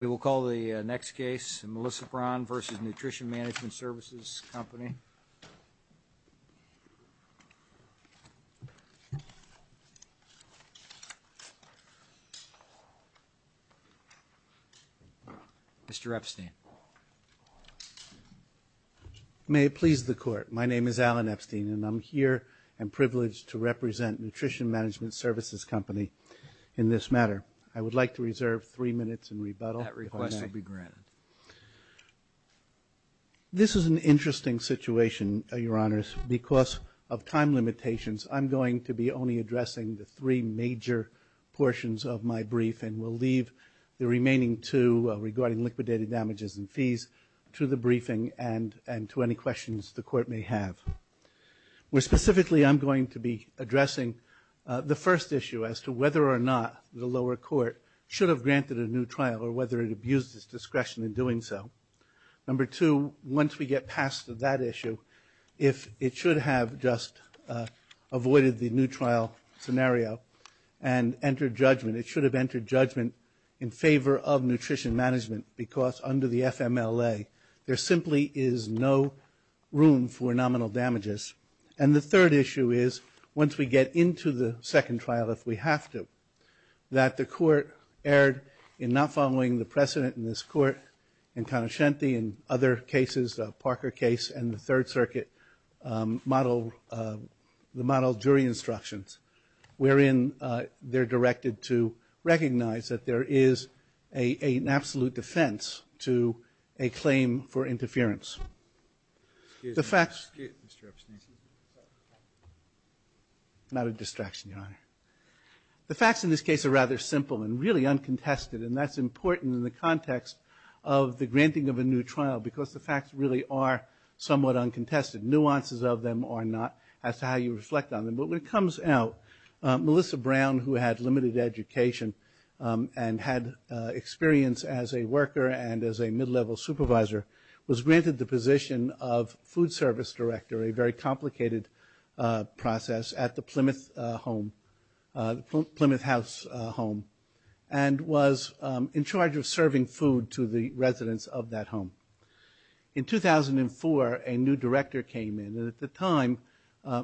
We will call the next case, Melissa Braun v. Nutrition Management Services Company. Mr. Epstein. May it please the court, my name is Alan Epstein and I'm here and privileged to represent Nutrition Management Services Company in this matter. I would like to reserve three minutes in rebuttal if I may. That request will be granted. This is an interesting situation, your honors, because of time limitations. I'm going to be only addressing the three major portions of my brief and will leave the remaining two regarding liquidated damages and fees to the briefing and to any questions the court may have. Specifically, I'm going to be addressing the first issue as to whether or not the lower court should have granted a new trial or whether it abused its discretion in doing so. Number two, once we get past that issue, if it should have just avoided the new trial scenario and entered judgment, it should have entered judgment in favor of Nutrition Management because under the FMLA, there simply is no room for nominal damages. And the third issue is, once we get into the second trial if we have to, that the court erred in not following the precedent in this court in Conoscenti and other cases, the Parker case and the Third Circuit model jury instructions, wherein they're directed to recognize that there is an absolute defense to a claim for interference. The facts. Not a distraction, your honor. The facts in this case are rather simple and really uncontested, and that's important in the context of the granting of a new trial because the facts really are somewhat uncontested. Nuances of them are not as to how you reflect on them. But when it comes out, Melissa Brown, who had limited education and had experience as a worker and as a mid-level supervisor, was granted the position of food service director, a very complicated process at the Plymouth house home, and was in charge of serving food to the residents of that home. In 2004, a new director came in. At the time,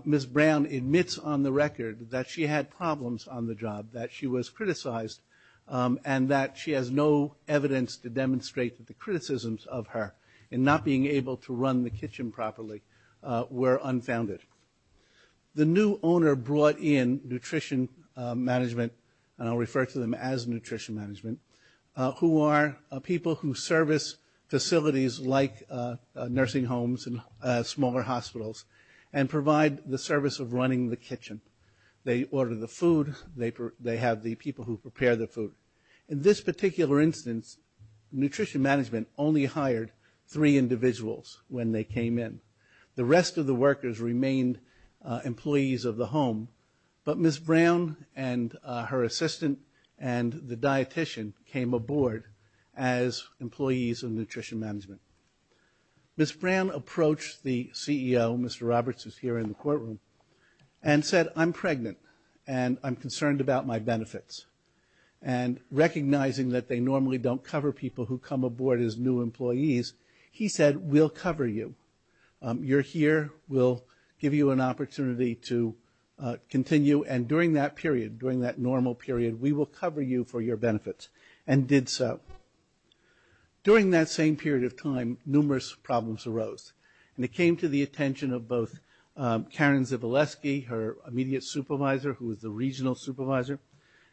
Ms. Brown admits on the record that she had problems on the job, that she was criticized and that she has no evidence to demonstrate that the criticisms of her in not being able to run the kitchen properly were unfounded. The new owner brought in nutrition management, and I'll refer to them as nutrition management, who are people who service facilities like nursing homes and smaller hospitals and provide the service of running the kitchen. They order the food. They have the people who prepare the food. In this particular instance, nutrition management only hired three individuals when they came in. The rest of the workers remained employees of the home, but Ms. Brown and her assistant and the dietician came aboard as employees of nutrition management. Ms. Brown approached the CEO, Mr. Roberts, who's here in the courtroom, and said, I'm pregnant, and I'm concerned about my benefits. And recognizing that they normally don't cover people who come aboard as new employees, he said, we'll cover you. You're here. We'll give you an opportunity to continue, and during that period, during that normal period, we will cover you for your benefits, and did so. During that same period of time, numerous problems arose, and it came to the attention of both Karen Zivileski, her immediate supervisor, who was the regional supervisor,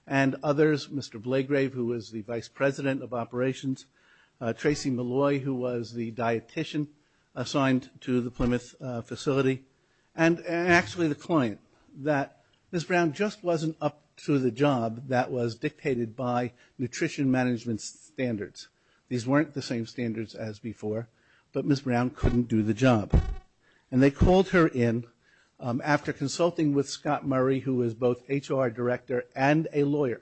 and others, Mr. Blagrave, who was the vice president of operations, Tracy Malloy, who was the dietician assigned to the Plymouth facility, and actually the client, that Ms. Brown just wasn't up to the job that was dictated by nutrition management's standards. These weren't the same standards as before, but Ms. Brown couldn't do the job. And they called her in after consulting with Scott Murray, who was both HR director and a lawyer,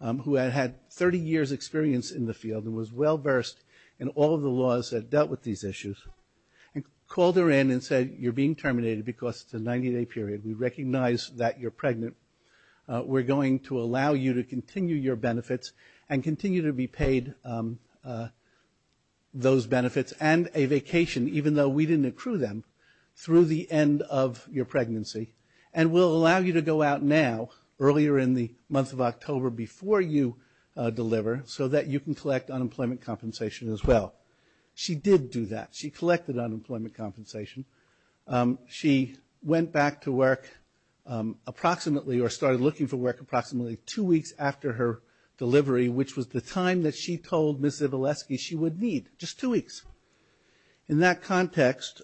who had had 30 years' experience in the field and was well-versed in all of the laws that dealt with these issues, and called her in and said, you're being terminated because it's a 90-day period. We recognize that you're pregnant. We're going to allow you to continue your benefits and continue to be paid those benefits and a vacation, even though we didn't accrue them, through the end of your pregnancy, and we'll allow you to go out now, earlier in the month of October, before you deliver, so that you can collect unemployment compensation as well. She did do that. She collected unemployment compensation. She went back to work approximately, or started looking for work approximately two weeks after her delivery, which was the time that she told Ms. Zivileski she would need, just two weeks. In that context,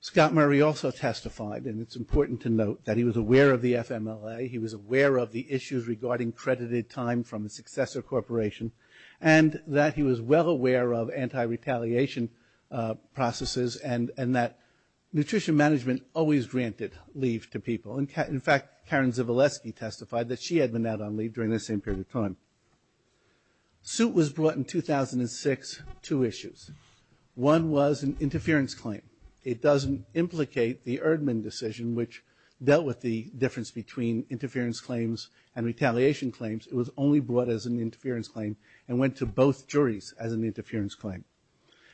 Scott Murray also testified, and it's important to note that he was aware of the FMLA. He was aware of the issues regarding credited time from a successor corporation, and that he was well aware of anti-retaliation processes, and that nutrition management always granted leave to people. In fact, Karen Zivileski testified that she had been out on leave during this same period of time. Suit was brought in 2006, two issues. One was an interference claim. It doesn't implicate the Erdman decision, which dealt with the difference between interference claims and retaliation claims. It was only brought as an interference claim, and went to both juries as an interference claim.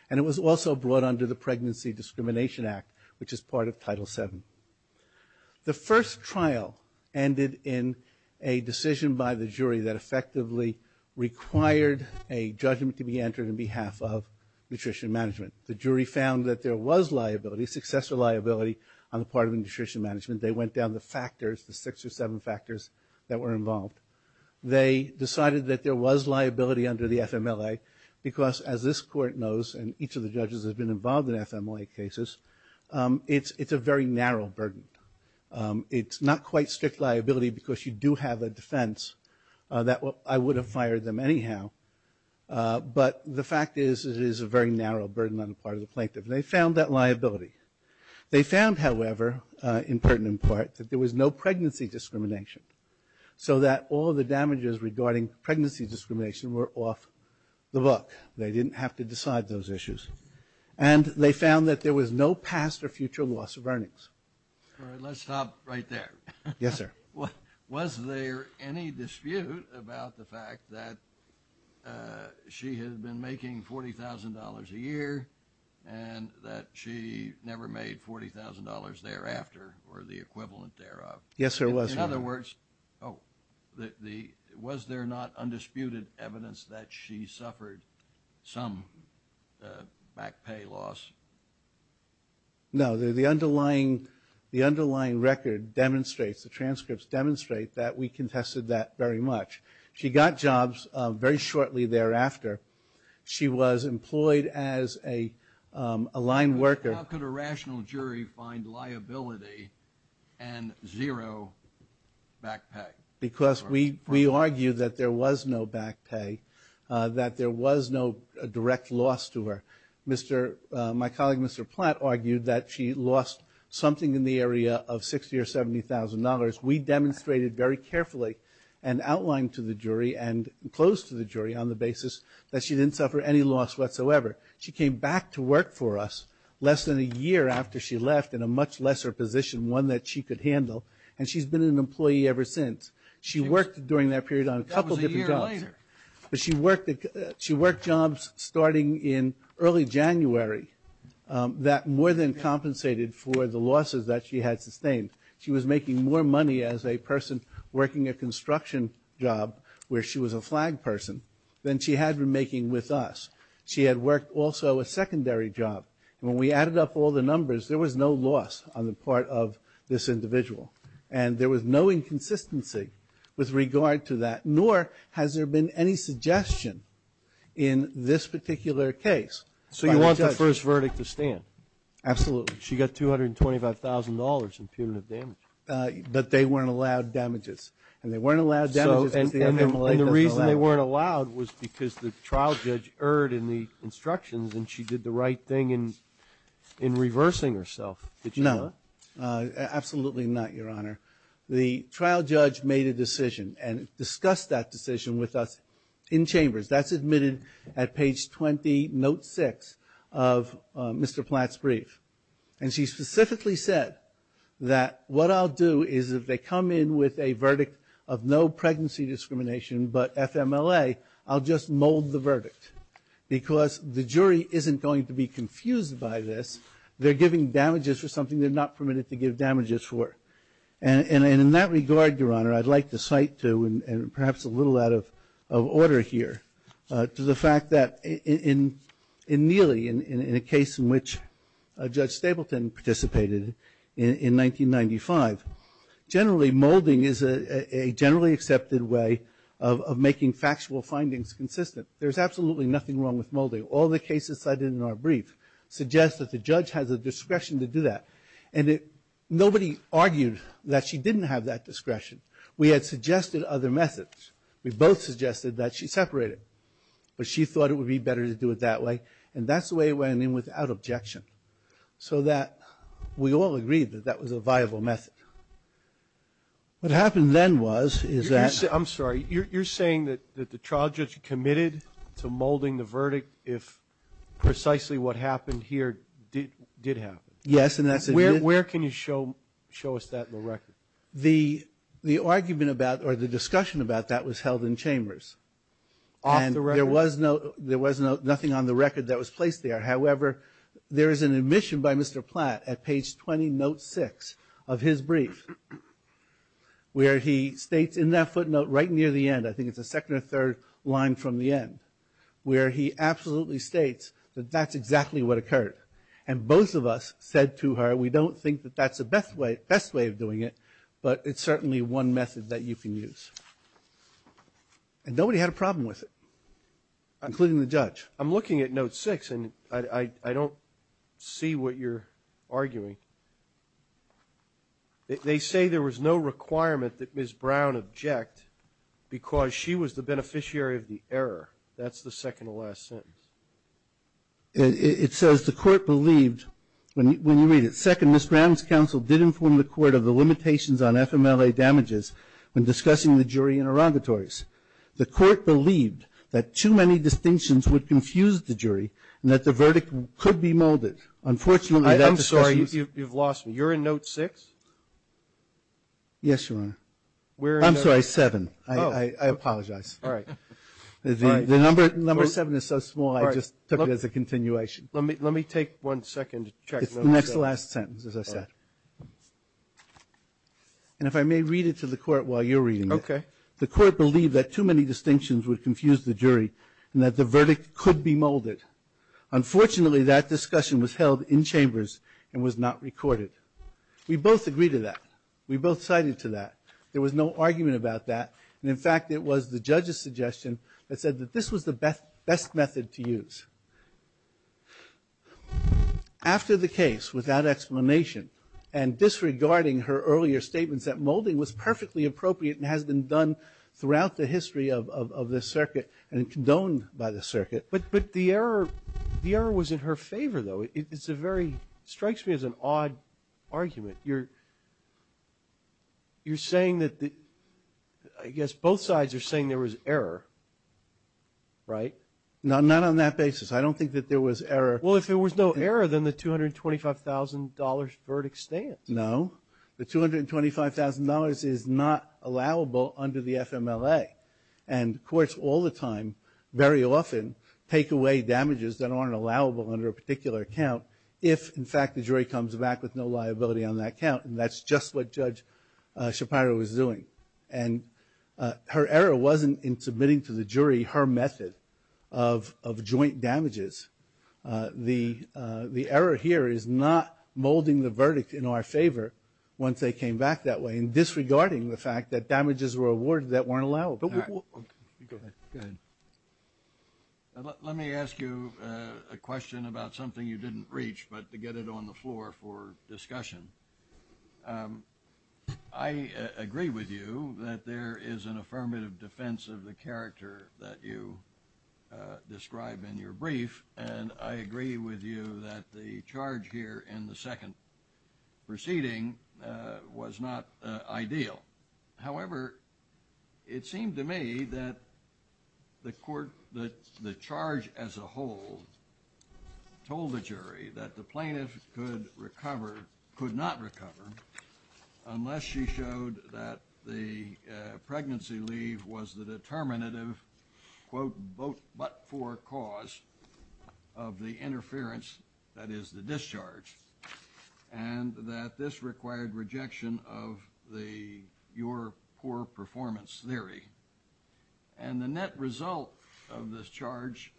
And it was also brought under the Pregnancy Discrimination Act, which is part of Title VII. The first trial ended in a decision by the jury that effectively required a judgment to be entered on behalf of nutrition management. The jury found that there was liability, successor liability on the part of nutrition management. They went down the factors, the six or seven factors that were involved. They decided that there was liability under the FMLA, because as this court knows, and each of the judges has been involved in FMLA cases, it's a very narrow burden. It's not quite strict liability, because you do have a defense, that I would have fired them anyhow. But the fact is, it is a very narrow burden on the part of the plaintiff. And they found that liability. They found, however, in pertinent part, that there was no pregnancy discrimination, so that all the damages regarding pregnancy discrimination were off the book. They didn't have to decide those issues. And they found that there was no past or future loss of earnings. All right, let's stop right there. Yes, sir. Was there any dispute about the fact that she had been making $40,000 a year and that she never made $40,000 thereafter or the equivalent thereof? Yes, there was. In other words, was there not undisputed evidence that she suffered some back pay loss? No, the underlying record demonstrates, the transcripts demonstrate, that we contested that very much. She got jobs very shortly thereafter. She was employed as a line worker. How could a rational jury find liability and zero back pay? Because we argue that there was no back pay, that there was no direct loss to her. My colleague, Mr. Platt, argued that she lost something in the area of $60,000 or $70,000. We demonstrated very carefully and outlined to the jury and closed to the jury on the basis that she didn't suffer any loss whatsoever. She came back to work for us less than a year after she left in a much lesser position, one that she could handle, and she's been an employee ever since. She worked during that period on a couple different jobs. But that was a year later. But she worked jobs starting in early January that more than compensated for the losses that she had sustained. She was making more money as a person working a construction job, where she was a flag person, than she had been making with us. She had worked also a secondary job. When we added up all the numbers, there was no loss on the part of this individual. And there was no inconsistency with regard to that, nor has there been any suggestion in this particular case by the judge. So you want that first verdict to stand? Absolutely. She got $225,000 in punitive damage. But they weren't allowed damages. And they weren't allowed damages. And the reason they weren't allowed was because the trial judge erred in the instructions and she did the right thing in reversing herself, did you know that? No, absolutely not, Your Honor. The trial judge made a decision and discussed that decision with us in chambers. That's admitted at page 20, note 6 of Mr. Platt's brief. And she specifically said that, what I'll do is if they come in with a verdict of no pregnancy discrimination but FMLA, I'll just mold the verdict because the jury isn't going to be confused by this. They're giving damages for something they're not permitted to give damages for. And in that regard, Your Honor, I'd like to cite to, and perhaps a little out of order here, to the fact that in Neely, in a case in which Judge Stapleton participated in 1995, generally molding is a generally accepted way of making factual findings consistent. There's absolutely nothing wrong with molding. All the cases cited in our brief suggest that the judge has the discretion to do that. And nobody argued that she didn't have that discretion. We had suggested other methods. We both suggested that she separate it. But she thought it would be better to do it that way. And that's the way it went in without objection. So that we all agreed that that was a viable method. What happened then was, is that – I'm sorry, you're saying that the trial judge committed to molding the verdict if precisely what happened here did happen? Yes, and that's – Where can you show us that in the record? The argument about, or the discussion about that was held in Chambers. Off the record? There was nothing on the record that was placed there. However, there is an admission by Mr. Platt at page 20, note 6 of his brief, where he states in that footnote right near the end – I think it's the second or third line from the end – where he absolutely states that that's exactly what occurred. And both of us said to her, we don't think that that's the best way of doing it, but it's certainly one method that you can use. And nobody had a problem with it, including the judge. I'm looking at note 6, and I don't see what you're arguing. They say there was no requirement that Ms. Brown object because she was the beneficiary of the error. That's the second to last sentence. It says, the court believed – when you read it – Second, Ms. Brown's counsel did inform the court of the limitations on FMLA damages when discussing the jury interrogatories. The court believed that too many distinctions would confuse the jury and that the verdict could be molded. Unfortunately, that discussion is – I'm sorry. You've lost me. You're in note 6? Yes, Your Honor. I'm sorry, 7. I apologize. All right. The number 7 is so small, I just took it as a continuation. Let me take one second to check. It's the next to last sentence, as I said. And if I may read it to the court while you're reading it. Okay. The court believed that too many distinctions would confuse the jury and that the verdict could be molded. Unfortunately, that discussion was held in chambers and was not recorded. We both agreed to that. We both cited to that. There was no argument about that. And, in fact, it was the judge's suggestion that said that this was the best method to use. After the case, without explanation, and disregarding her earlier statements that molding was perfectly appropriate and has been done throughout the history of the circuit and condoned by the circuit. But the error was in her favor, though. It's a very – it strikes me as an odd argument. You're saying that – I guess both sides are saying there was error, right? Not on that basis. I don't think that there was error. Well, if there was no error, then the $225,000 verdict stands. No. The $225,000 is not allowable under the FMLA. And courts all the time, very often, take away damages that aren't allowable under a particular account if, in fact, the jury comes back with no liability on that count. And that's just what Judge Shapiro was doing. And her error wasn't in submitting to the jury her method of joint damages. The error here is not molding the verdict in our favor once they came back that way and disregarding the fact that damages were awarded that weren't allowable. Go ahead. Let me ask you a question about something you didn't reach, but to get it on the floor for discussion. I agree with you that there is an affirmative defense of the character that you describe in your brief, and I agree with you that the charge here in the second proceeding was not ideal. However, it seemed to me that the court – that the charge as a whole told the jury that the plaintiff could recover or could not recover unless she showed that the pregnancy leave was the determinative, quote, but-for cause of the interference, that is, the discharge, and that this required rejection of your poor performance theory. And the net result of this charge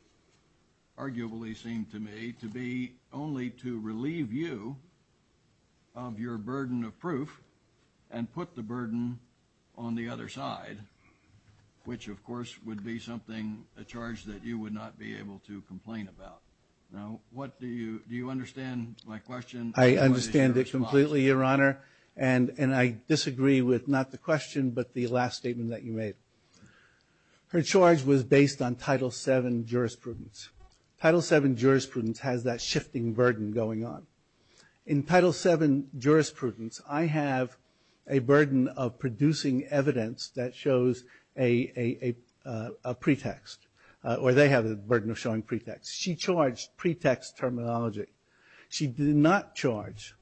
arguably seemed to me to be only to relieve you of your burden of proof and put the burden on the other side, which, of course, would be something – a charge that you would not be able to complain about. Now, what do you – do you understand my question? I understand it completely, Your Honor, and I disagree with not the question but the last statement that you made. Her charge was based on Title VII jurisprudence. Title VII jurisprudence has that shifting burden going on. In Title VII jurisprudence, I have a burden of producing evidence that shows a pretext, or they have the burden of showing pretext. She charged pretext terminology. She did not charge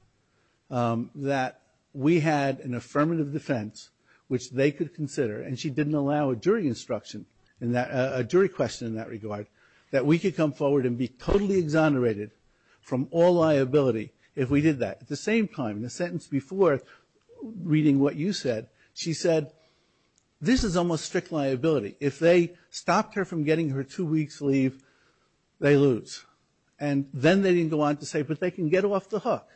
that we had an affirmative defense, which they could consider, and she didn't allow a jury instruction in that – she could come forward and be totally exonerated from all liability if we did that. At the same time, in the sentence before, reading what you said, she said, this is almost strict liability. If they stopped her from getting her two weeks' leave, they lose. And then they didn't go on to say, but they can get her off the hook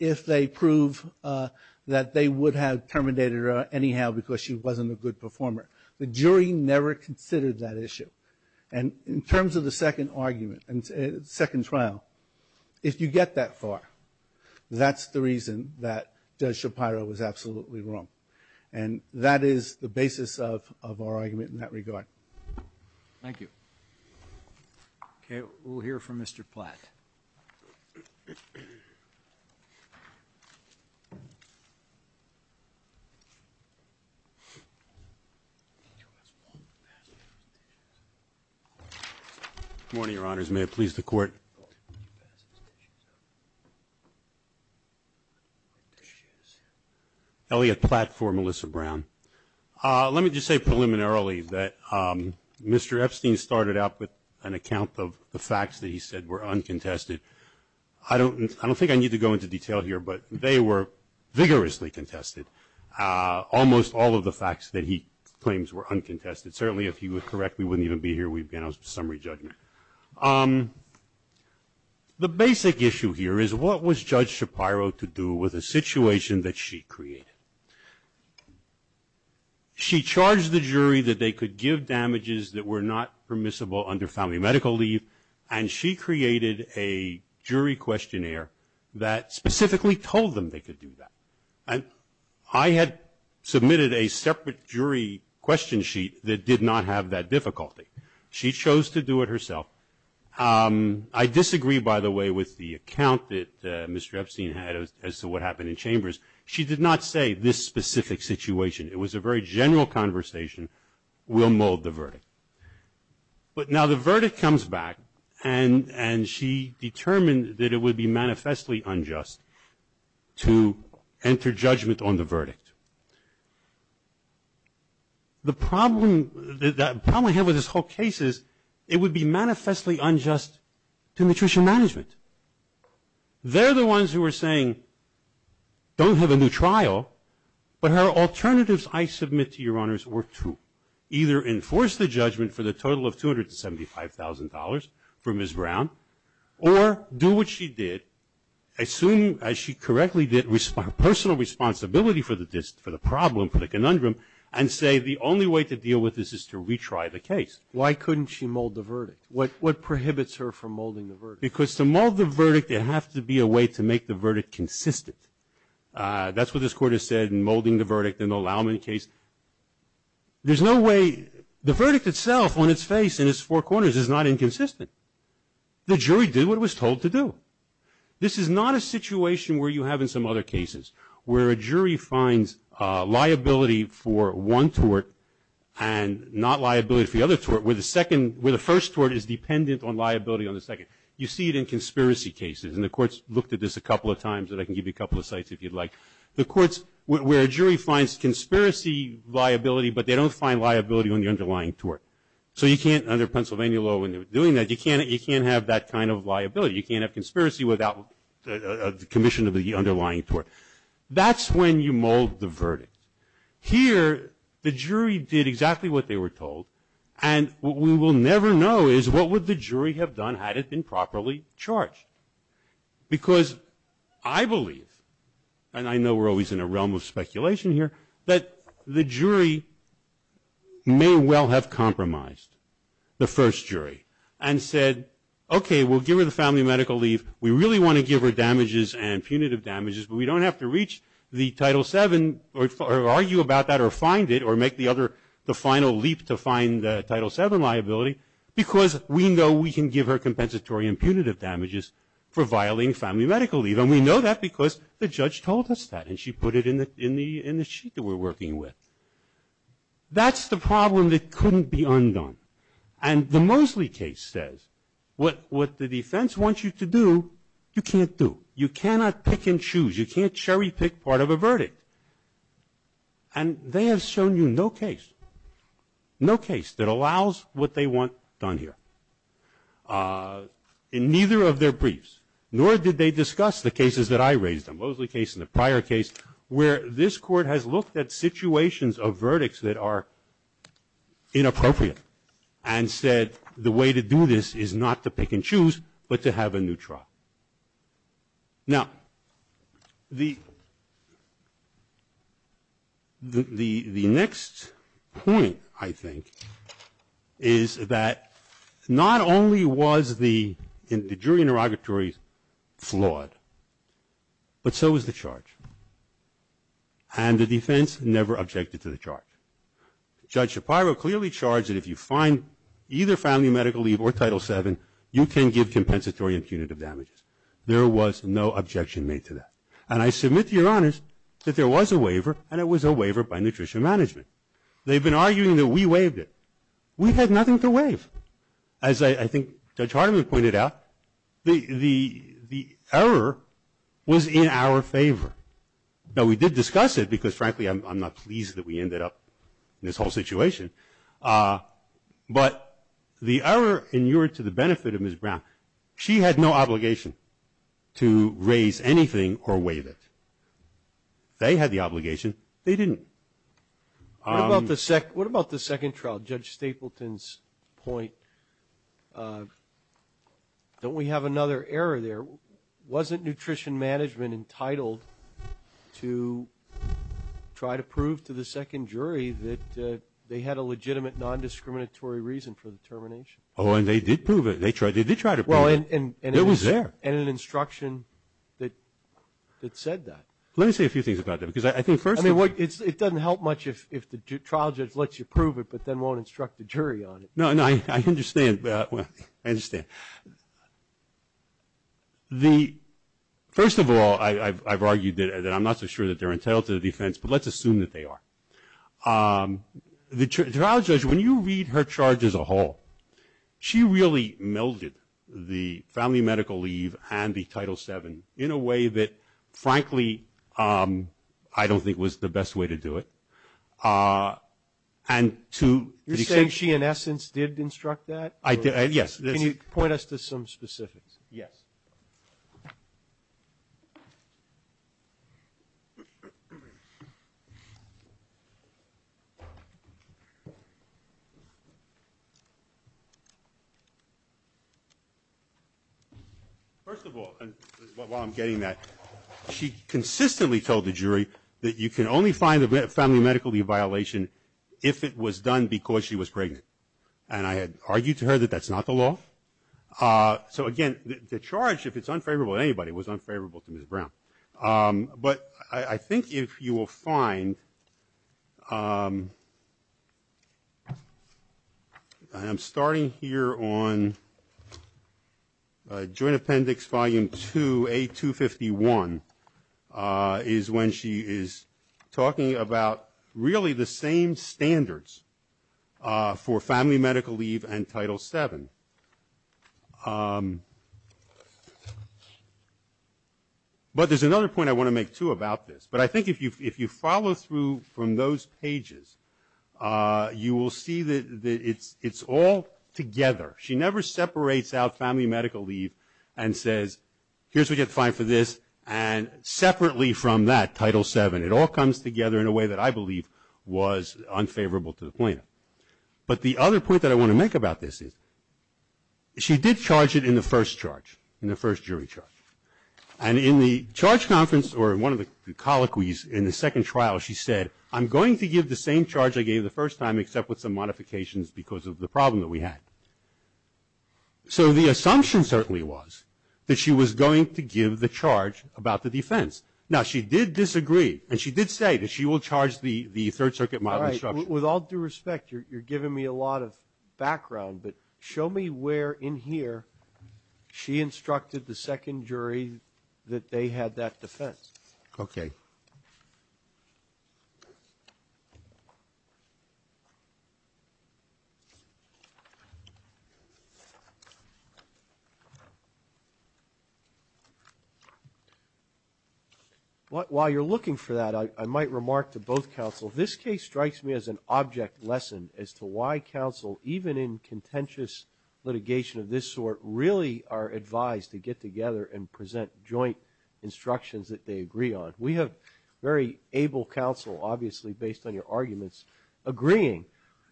if they prove that they would have terminated her anyhow because she wasn't a good performer. The jury never considered that issue. And in terms of the second argument, second trial, if you get that far, that's the reason that Judge Shapiro was absolutely wrong. And that is the basis of our argument in that regard. Thank you. Okay, we'll hear from Mr. Platt. Good morning, Your Honors. May it please the Court. Elliot Platt for Melissa Brown. Let me just say preliminarily that Mr. Epstein started out with an account of the facts that he said were uncontested. I don't think I need to go into detail here, but they were vigorously contested, almost all of the facts that he claims were uncontested. Certainly, if he were correct, we wouldn't even be here. We'd be on a summary judgment. The basic issue here is what was Judge Shapiro to do with a situation that she created? She charged the jury that they could give damages that were not permissible under family medical leave, and she created a jury questionnaire that specifically told them they could do that. I had submitted a separate jury question sheet that did not have that difficulty. She chose to do it herself. I disagree, by the way, with the account that Mr. Epstein had as to what happened in Chambers. She did not say this specific situation. It was a very general conversation. We'll mold the verdict. But now the verdict comes back, and she determined that it would be manifestly unjust to enter judgment on the verdict. The problem I have with this whole case is it would be manifestly unjust to nutrition management. They're the ones who are saying, don't have a new trial, but her alternatives, I submit to your honors, were true. Either enforce the judgment for the total of $275,000 for Ms. Brown, or do what she did, assume, as she correctly did, her personal responsibility for the problem, for the conundrum, and say the only way to deal with this is to retry the case. Why couldn't she mold the verdict? What prohibits her from molding the verdict? Because to mold the verdict, there has to be a way to make the verdict consistent. That's what this Court has said in molding the verdict in the Laumann case. There's no way. The verdict itself, on its face, in its four corners, is not inconsistent. The jury did what it was told to do. This is not a situation where you have in some other cases where a jury finds liability for one tort and not liability for the other tort, where the first tort is dependent on liability on the second. You see it in conspiracy cases, and the Court's looked at this a couple of times, and I can give you a couple of sites if you'd like. The courts where a jury finds conspiracy liability, but they don't find liability on the underlying tort. So you can't, under Pennsylvania law, when they're doing that, you can't have that kind of liability. You can't have conspiracy without the commission of the underlying tort. That's when you mold the verdict. Here, the jury did exactly what they were told, and what we will never know is what would the jury have done had it been properly charged. Because I believe, and I know we're always in a realm of speculation here, that the jury may well have compromised, the first jury, and said, okay, we'll give her the family medical leave. We really want to give her damages and punitive damages, but we don't have to reach the Title VII or argue about that or find it or make the other, the final leap to find the Title VII liability because we know we can give her compensatory and punitive damages for violating family medical leave. And we know that because the judge told us that, and she put it in the sheet that we're working with. That's the problem that couldn't be undone. And the Mosley case says what the defense wants you to do, you can't do. You cannot pick and choose. You can't cherry pick part of a verdict. And they have shown you no case, no case that allows what they want done here in neither of their briefs, nor did they discuss the cases that I raised, the Mosley case and the prior case, where this Court has looked at situations of verdicts that are inappropriate and said the way to do this is not to pick and choose but to have a new trial. Now, the next point, I think, is that not only was the jury interrogatory flawed, but so was the charge. And the defense never objected to the charge. Judge Shapiro clearly charged that if you find either family medical leave or Title VII, you can give compensatory and punitive damages. There was no objection made to that. And I submit to your honors that there was a waiver, and it was a waiver by Nutrition Management. They've been arguing that we waived it. We had nothing to waive. As I think Judge Hardiman pointed out, the error was in our favor. Now, we did discuss it because, frankly, I'm not pleased that we ended up in this whole situation. But the error in your to the benefit of Ms. Brown, she had no obligation to raise anything or waive it. They had the obligation. They didn't. What about the second trial, Judge Stapleton's point? Don't we have another error there? Wasn't Nutrition Management entitled to try to prove to the second jury that they had a legitimate, non-discriminatory reason for the termination? Oh, and they did prove it. They did try to prove it. It was there. And an instruction that said that. Let me say a few things about that. I mean, it doesn't help much if the trial judge lets you prove it but then won't instruct the jury on it. No, no, I understand. I understand. The first of all, I've argued that I'm not so sure that they're entitled to the defense, but let's assume that they are. The trial judge, when you read her charge as a whole, she really melded the family medical leave and the Title VII in a way that, frankly, I don't think was the best way to do it. You're saying she, in essence, did instruct that? Yes. Can you point us to some specifics? Yes. First of all, while I'm getting that, she consistently told the jury that you can only find the family medical leave violation if it was done because she was pregnant. And I had argued to her that that's not the law. So, again, the charge, if it's unfavorable to anybody, was unfavorable to Ms. Brown. But I think if you will find, and I'm starting here on Joint Appendix Volume II, A251, is when she is talking about really the same standards for family medical leave and Title VII. There's another point I want to make, too, about this. But I think if you follow through from those pages, you will see that it's all together. She never separates out family medical leave and says, here's what you have to find for this, and separately from that, Title VII. It all comes together in a way that I believe was unfavorable to the plaintiff. But the other point that I want to make about this is she did charge it in the first charge, in the first jury charge. And in the charge conference, or one of the colloquies in the second trial, she said, I'm going to give the same charge I gave the first time, except with some modifications because of the problem that we had. So the assumption certainly was that she was going to give the charge about the defense. Now, she did disagree, and she did say that she will charge the Third Circuit model instruction. All right. But show me where in here she instructed the second jury that they had that defense. Okay. While you're looking for that, I might remark to both counsel, this case strikes me as an object lesson as to why counsel, even in contentious litigation of this sort, really are advised to get together and present joint instructions that they agree on. We have very able counsel, obviously based on your arguments, agreeing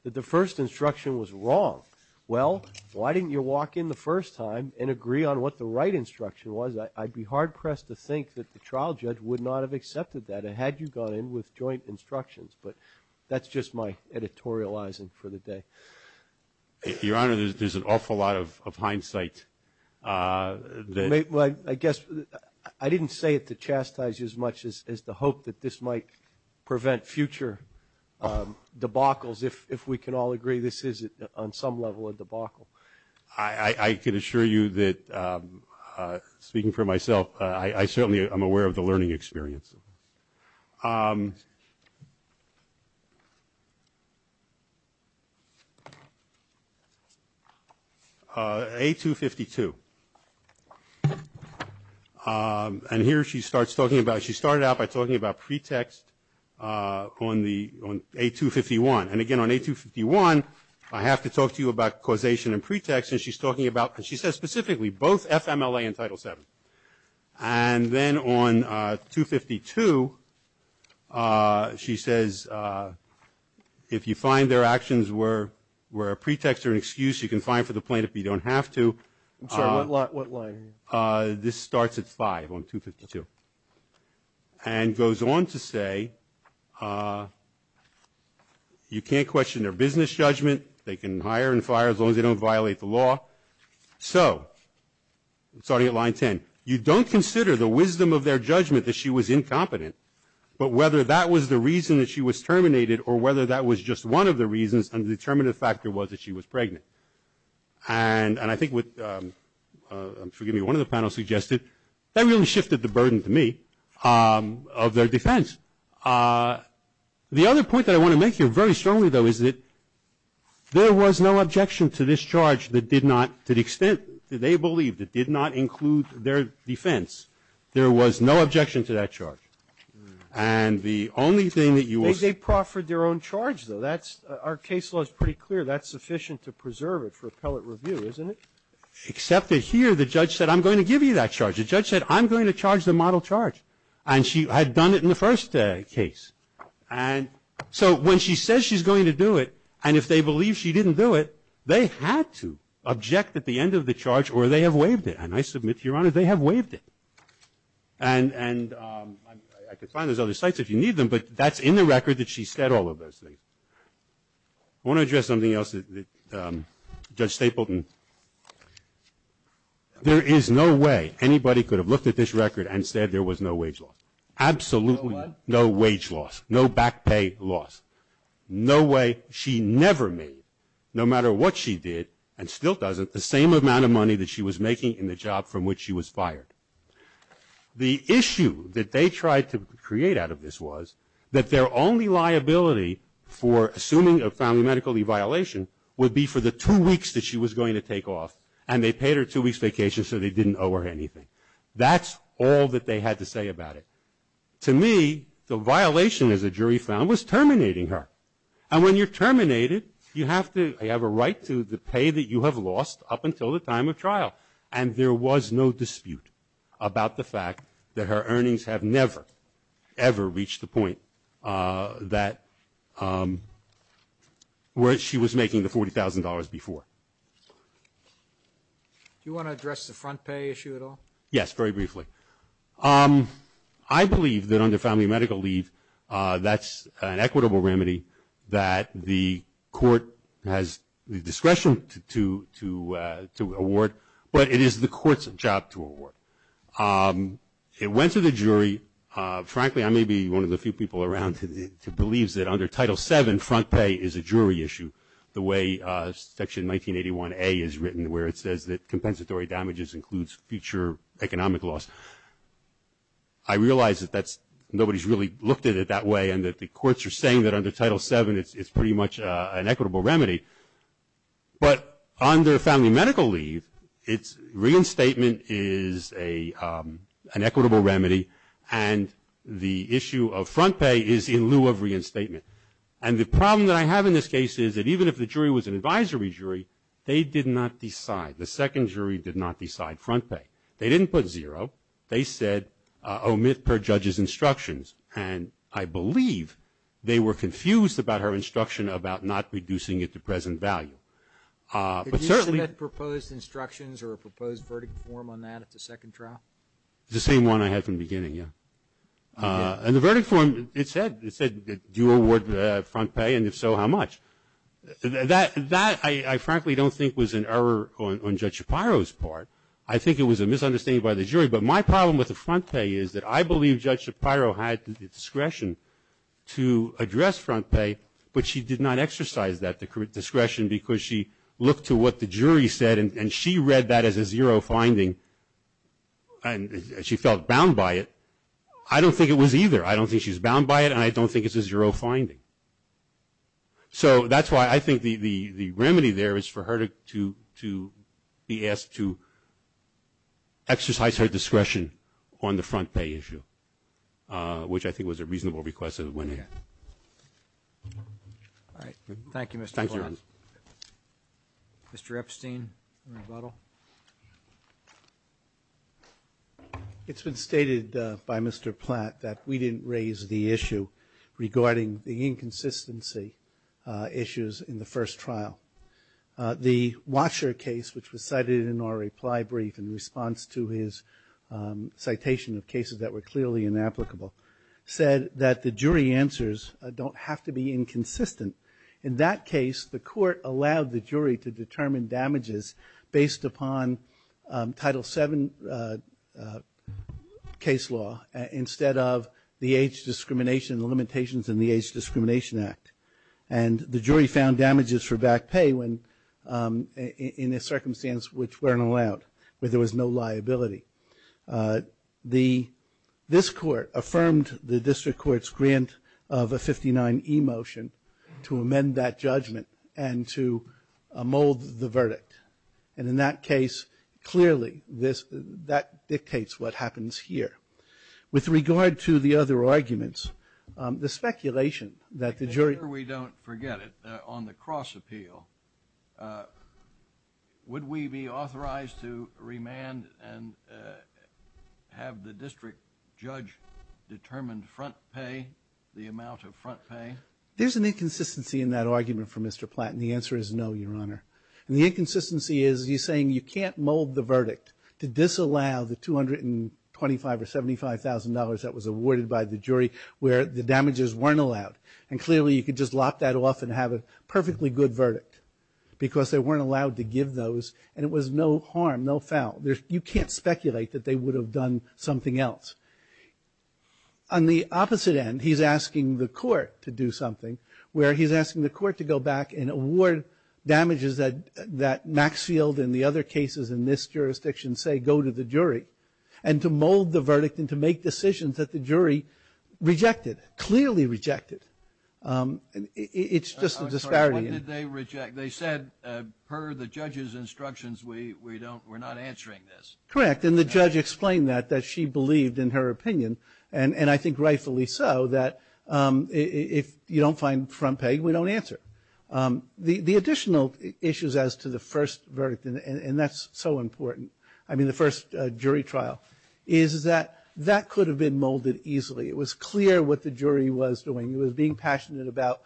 that the first instruction was wrong. Well, why didn't you walk in the first time and agree on what the right instruction was? I'd be hard-pressed to think that the trial judge would not have accepted that had you gone in with joint instructions. But that's just my editorializing for the day. Your Honor, there's an awful lot of hindsight. I guess I didn't say it to chastise you as much as to hope that this might prevent future debacles, if we can all agree this is on some level a debacle. I can assure you that, speaking for myself, I certainly am aware of the learning experience. A252. And here she starts talking about, she started out by talking about pretext on A251. And again, on A251, I have to talk to you about causation and pretext. And she's talking about, and she says specifically, both FMLA and Title VII. And then on 252, she says, if you find their actions were a pretext or an excuse, you can fine for the plaintiff if you don't have to. I'm sorry, what line are you on? This starts at 5 on 252. And goes on to say, you can't question their business judgment. They can hire and fire as long as they don't violate the law. So, starting at line 10. You don't consider the wisdom of their judgment that she was incompetent, but whether that was the reason that she was terminated or whether that was just one of the reasons and the determinative factor was that she was pregnant. And I think what, forgive me, one of the panels suggested, that really shifted the burden to me of their defense. The other point that I want to make here very strongly, though, is that there was no objection to this charge that did not, to the extent that they believed, it did not include their defense. There was no objection to that charge. And the only thing that you will see. They proffered their own charge, though. That's, our case law is pretty clear. That's sufficient to preserve it for appellate review, isn't it? Except that here, the judge said, I'm going to give you that charge. The judge said, I'm going to charge the model charge. And she had done it in the first case. And so, when she says she's going to do it, and if they believe she didn't do it, they had to object at the end of the charge or they have waived it. And I submit to Your Honor, they have waived it. And I could find those other sites if you need them, but that's in the record that she said all of those things. I want to address something else. Judge Stapleton, there is no way anybody could have looked at this record and said there was no wage loss. Absolutely no wage loss. No back pay loss. No way. She never made, no matter what she did, and still doesn't, the same amount of money that she was making in the job from which she was fired. The issue that they tried to create out of this was that their only liability for assuming a family medical violation would be for the two weeks that she was going to take off. And they paid her two weeks vacation so they didn't owe her anything. That's all that they had to say about it. To me, the violation, as the jury found, was terminating her. And when you're terminated, you have to have a right to the pay that you have lost up until the time of trial. And there was no dispute about the fact that her earnings have never, ever reached the point that where she was making the $40,000 before. Do you want to address the front pay issue at all? Yes, very briefly. I believe that under family medical leave, that's an equitable remedy that the court has the discretion to award. But it is the court's job to award. It went to the jury. Frankly, I may be one of the few people around who believes that under Title VII, front pay is a jury issue, the way Section 1981A is written, where it says that compensatory damages includes future economic loss. I realize that nobody's really looked at it that way and that the courts are saying that under Title VII, it's pretty much an equitable remedy. But under family medical leave, reinstatement is an equitable remedy, and the issue of front pay is in lieu of reinstatement. And the problem that I have in this case is that even if the jury was an advisory jury, they did not decide. The second jury did not decide front pay. They didn't put zero. They said, omit per judge's instructions. And I believe they were confused about her instruction about not reducing it to present value. But certainly – Did you submit proposed instructions or a proposed verdict form on that at the second trial? The same one I had from the beginning, yeah. And the verdict form, it said, do you award front pay, and if so, how much? That I frankly don't think was an error on Judge Shapiro's part. I think it was a misunderstanding by the jury. But my problem with the front pay is that I believe Judge Shapiro had the discretion to address front pay, but she did not exercise that discretion because she looked to what the jury said, and she read that as a zero finding, and she felt bound by it. I don't think it was either. I don't think she was bound by it, and I don't think it's a zero finding. So that's why I think the remedy there is for her to be asked to exercise her discretion on the front pay issue, which I think was a reasonable request that it went ahead. All right. Thank you, Mr. Platt. Thank you. Mr. Epstein, rebuttal. It's been stated by Mr. Platt that we didn't raise the issue regarding the inconsistency issues in the first trial. The Washer case, which was cited in our reply brief in response to his citation of cases that were clearly inapplicable, said that the jury answers don't have to be inconsistent. In that case, the court allowed the jury to determine damages based upon Title VII case law instead of the age discrimination limitations in the Age Discrimination Act, and the jury found damages for back pay in a circumstance which weren't allowed, where there was no liability. This court affirmed the district court's grant of a 59E motion to amend that judgment and to mold the verdict. And in that case, clearly, that dictates what happens here. With regard to the other arguments, the speculation that the jury – have the district judge determined front pay, the amount of front pay? There's an inconsistency in that argument for Mr. Platt, and the answer is no, Your Honor. And the inconsistency is he's saying you can't mold the verdict to disallow the $225,000 or $75,000 that was awarded by the jury where the damages weren't allowed. And clearly, you could just lock that off and have a perfectly good verdict because they weren't allowed to give those, and it was no harm, no foul. You can't speculate that they would have done something else. On the opposite end, he's asking the court to do something where he's asking the court to go back and award damages that Maxfield and the other cases in this jurisdiction say go to the jury, and to mold the verdict and to make decisions that the jury rejected, clearly rejected. It's just a disparity. What did they reject? They said, per the judge's instructions, we're not answering this. Correct. And the judge explained that, that she believed in her opinion, and I think rightfully so, that if you don't find front pay, we don't answer. The additional issues as to the first verdict, and that's so important, I mean the first jury trial, is that that could have been molded easily. It was clear what the jury was doing. It was being passionate about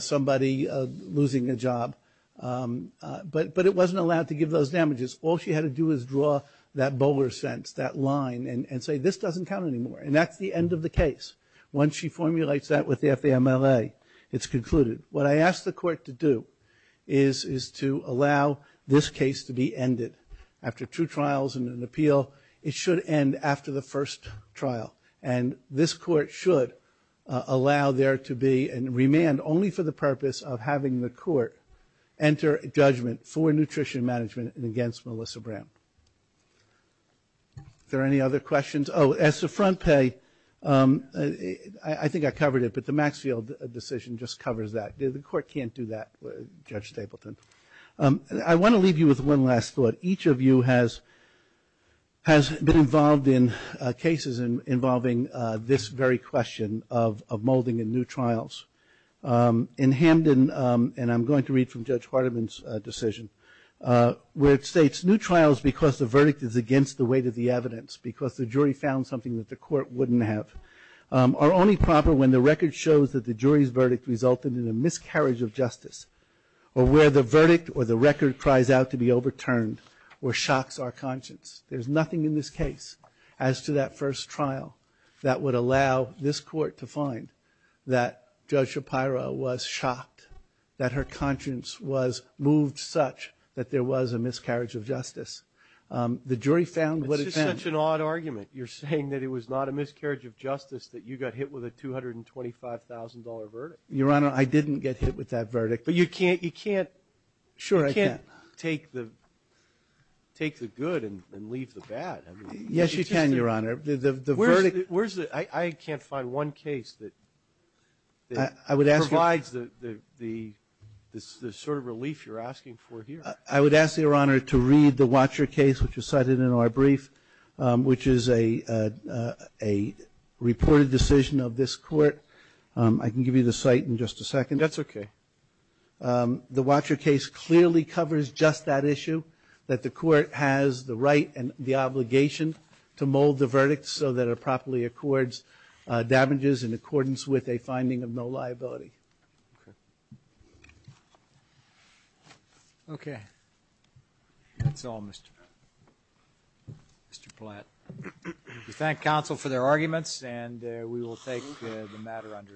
somebody losing a job, but it wasn't allowed to give those damages. All she had to do was draw that bowler sense, that line, and say, this doesn't count anymore, and that's the end of the case. Once she formulates that with the FAMLA, it's concluded. What I ask the court to do is to allow this case to be ended. After two trials and an appeal, it should end after the first trial, and this court should allow there to be a remand only for the purpose of having the court enter judgment for nutrition management and against Melissa Brown. Are there any other questions? Oh, as to front pay, I think I covered it, but the Maxfield decision just covers that. The court can't do that, Judge Stapleton. I want to leave you with one last thought. Each of you has been involved in cases involving this very question of molding in new trials. In Hamden, and I'm going to read from Judge Hardiman's decision, where it states, new trials because the verdict is against the weight of the evidence, because the jury found something that the court wouldn't have, are only proper when the record shows that the jury's verdict resulted in a miscarriage of justice, or where the verdict or the record cries out to be overturned or shocks our conscience. There's nothing in this case as to that first trial that would allow this court to find that Judge Shapiro was shocked, that her conscience was moved such that there was a miscarriage of justice. The jury found what it found. It's just such an odd argument. You're saying that it was not a miscarriage of justice that you got hit with a $225,000 verdict. Your Honor, I didn't get hit with that verdict. But you can't take the good and leave the bad. Yes, you can, Your Honor. I can't find one case that provides the sort of relief you're asking for here. I would ask, Your Honor, to read the Watcher case, which was cited in our brief, which is a reported decision of this court. I can give you the site in just a second. That's okay. The Watcher case clearly covers just that issue, that the court has the right and the obligation to mold the verdict so that it properly accords damages in accordance with a finding of no liability. Okay. That's all, Mr. Platt. We thank counsel for their arguments, and we will take the matter under advisement. Thank you.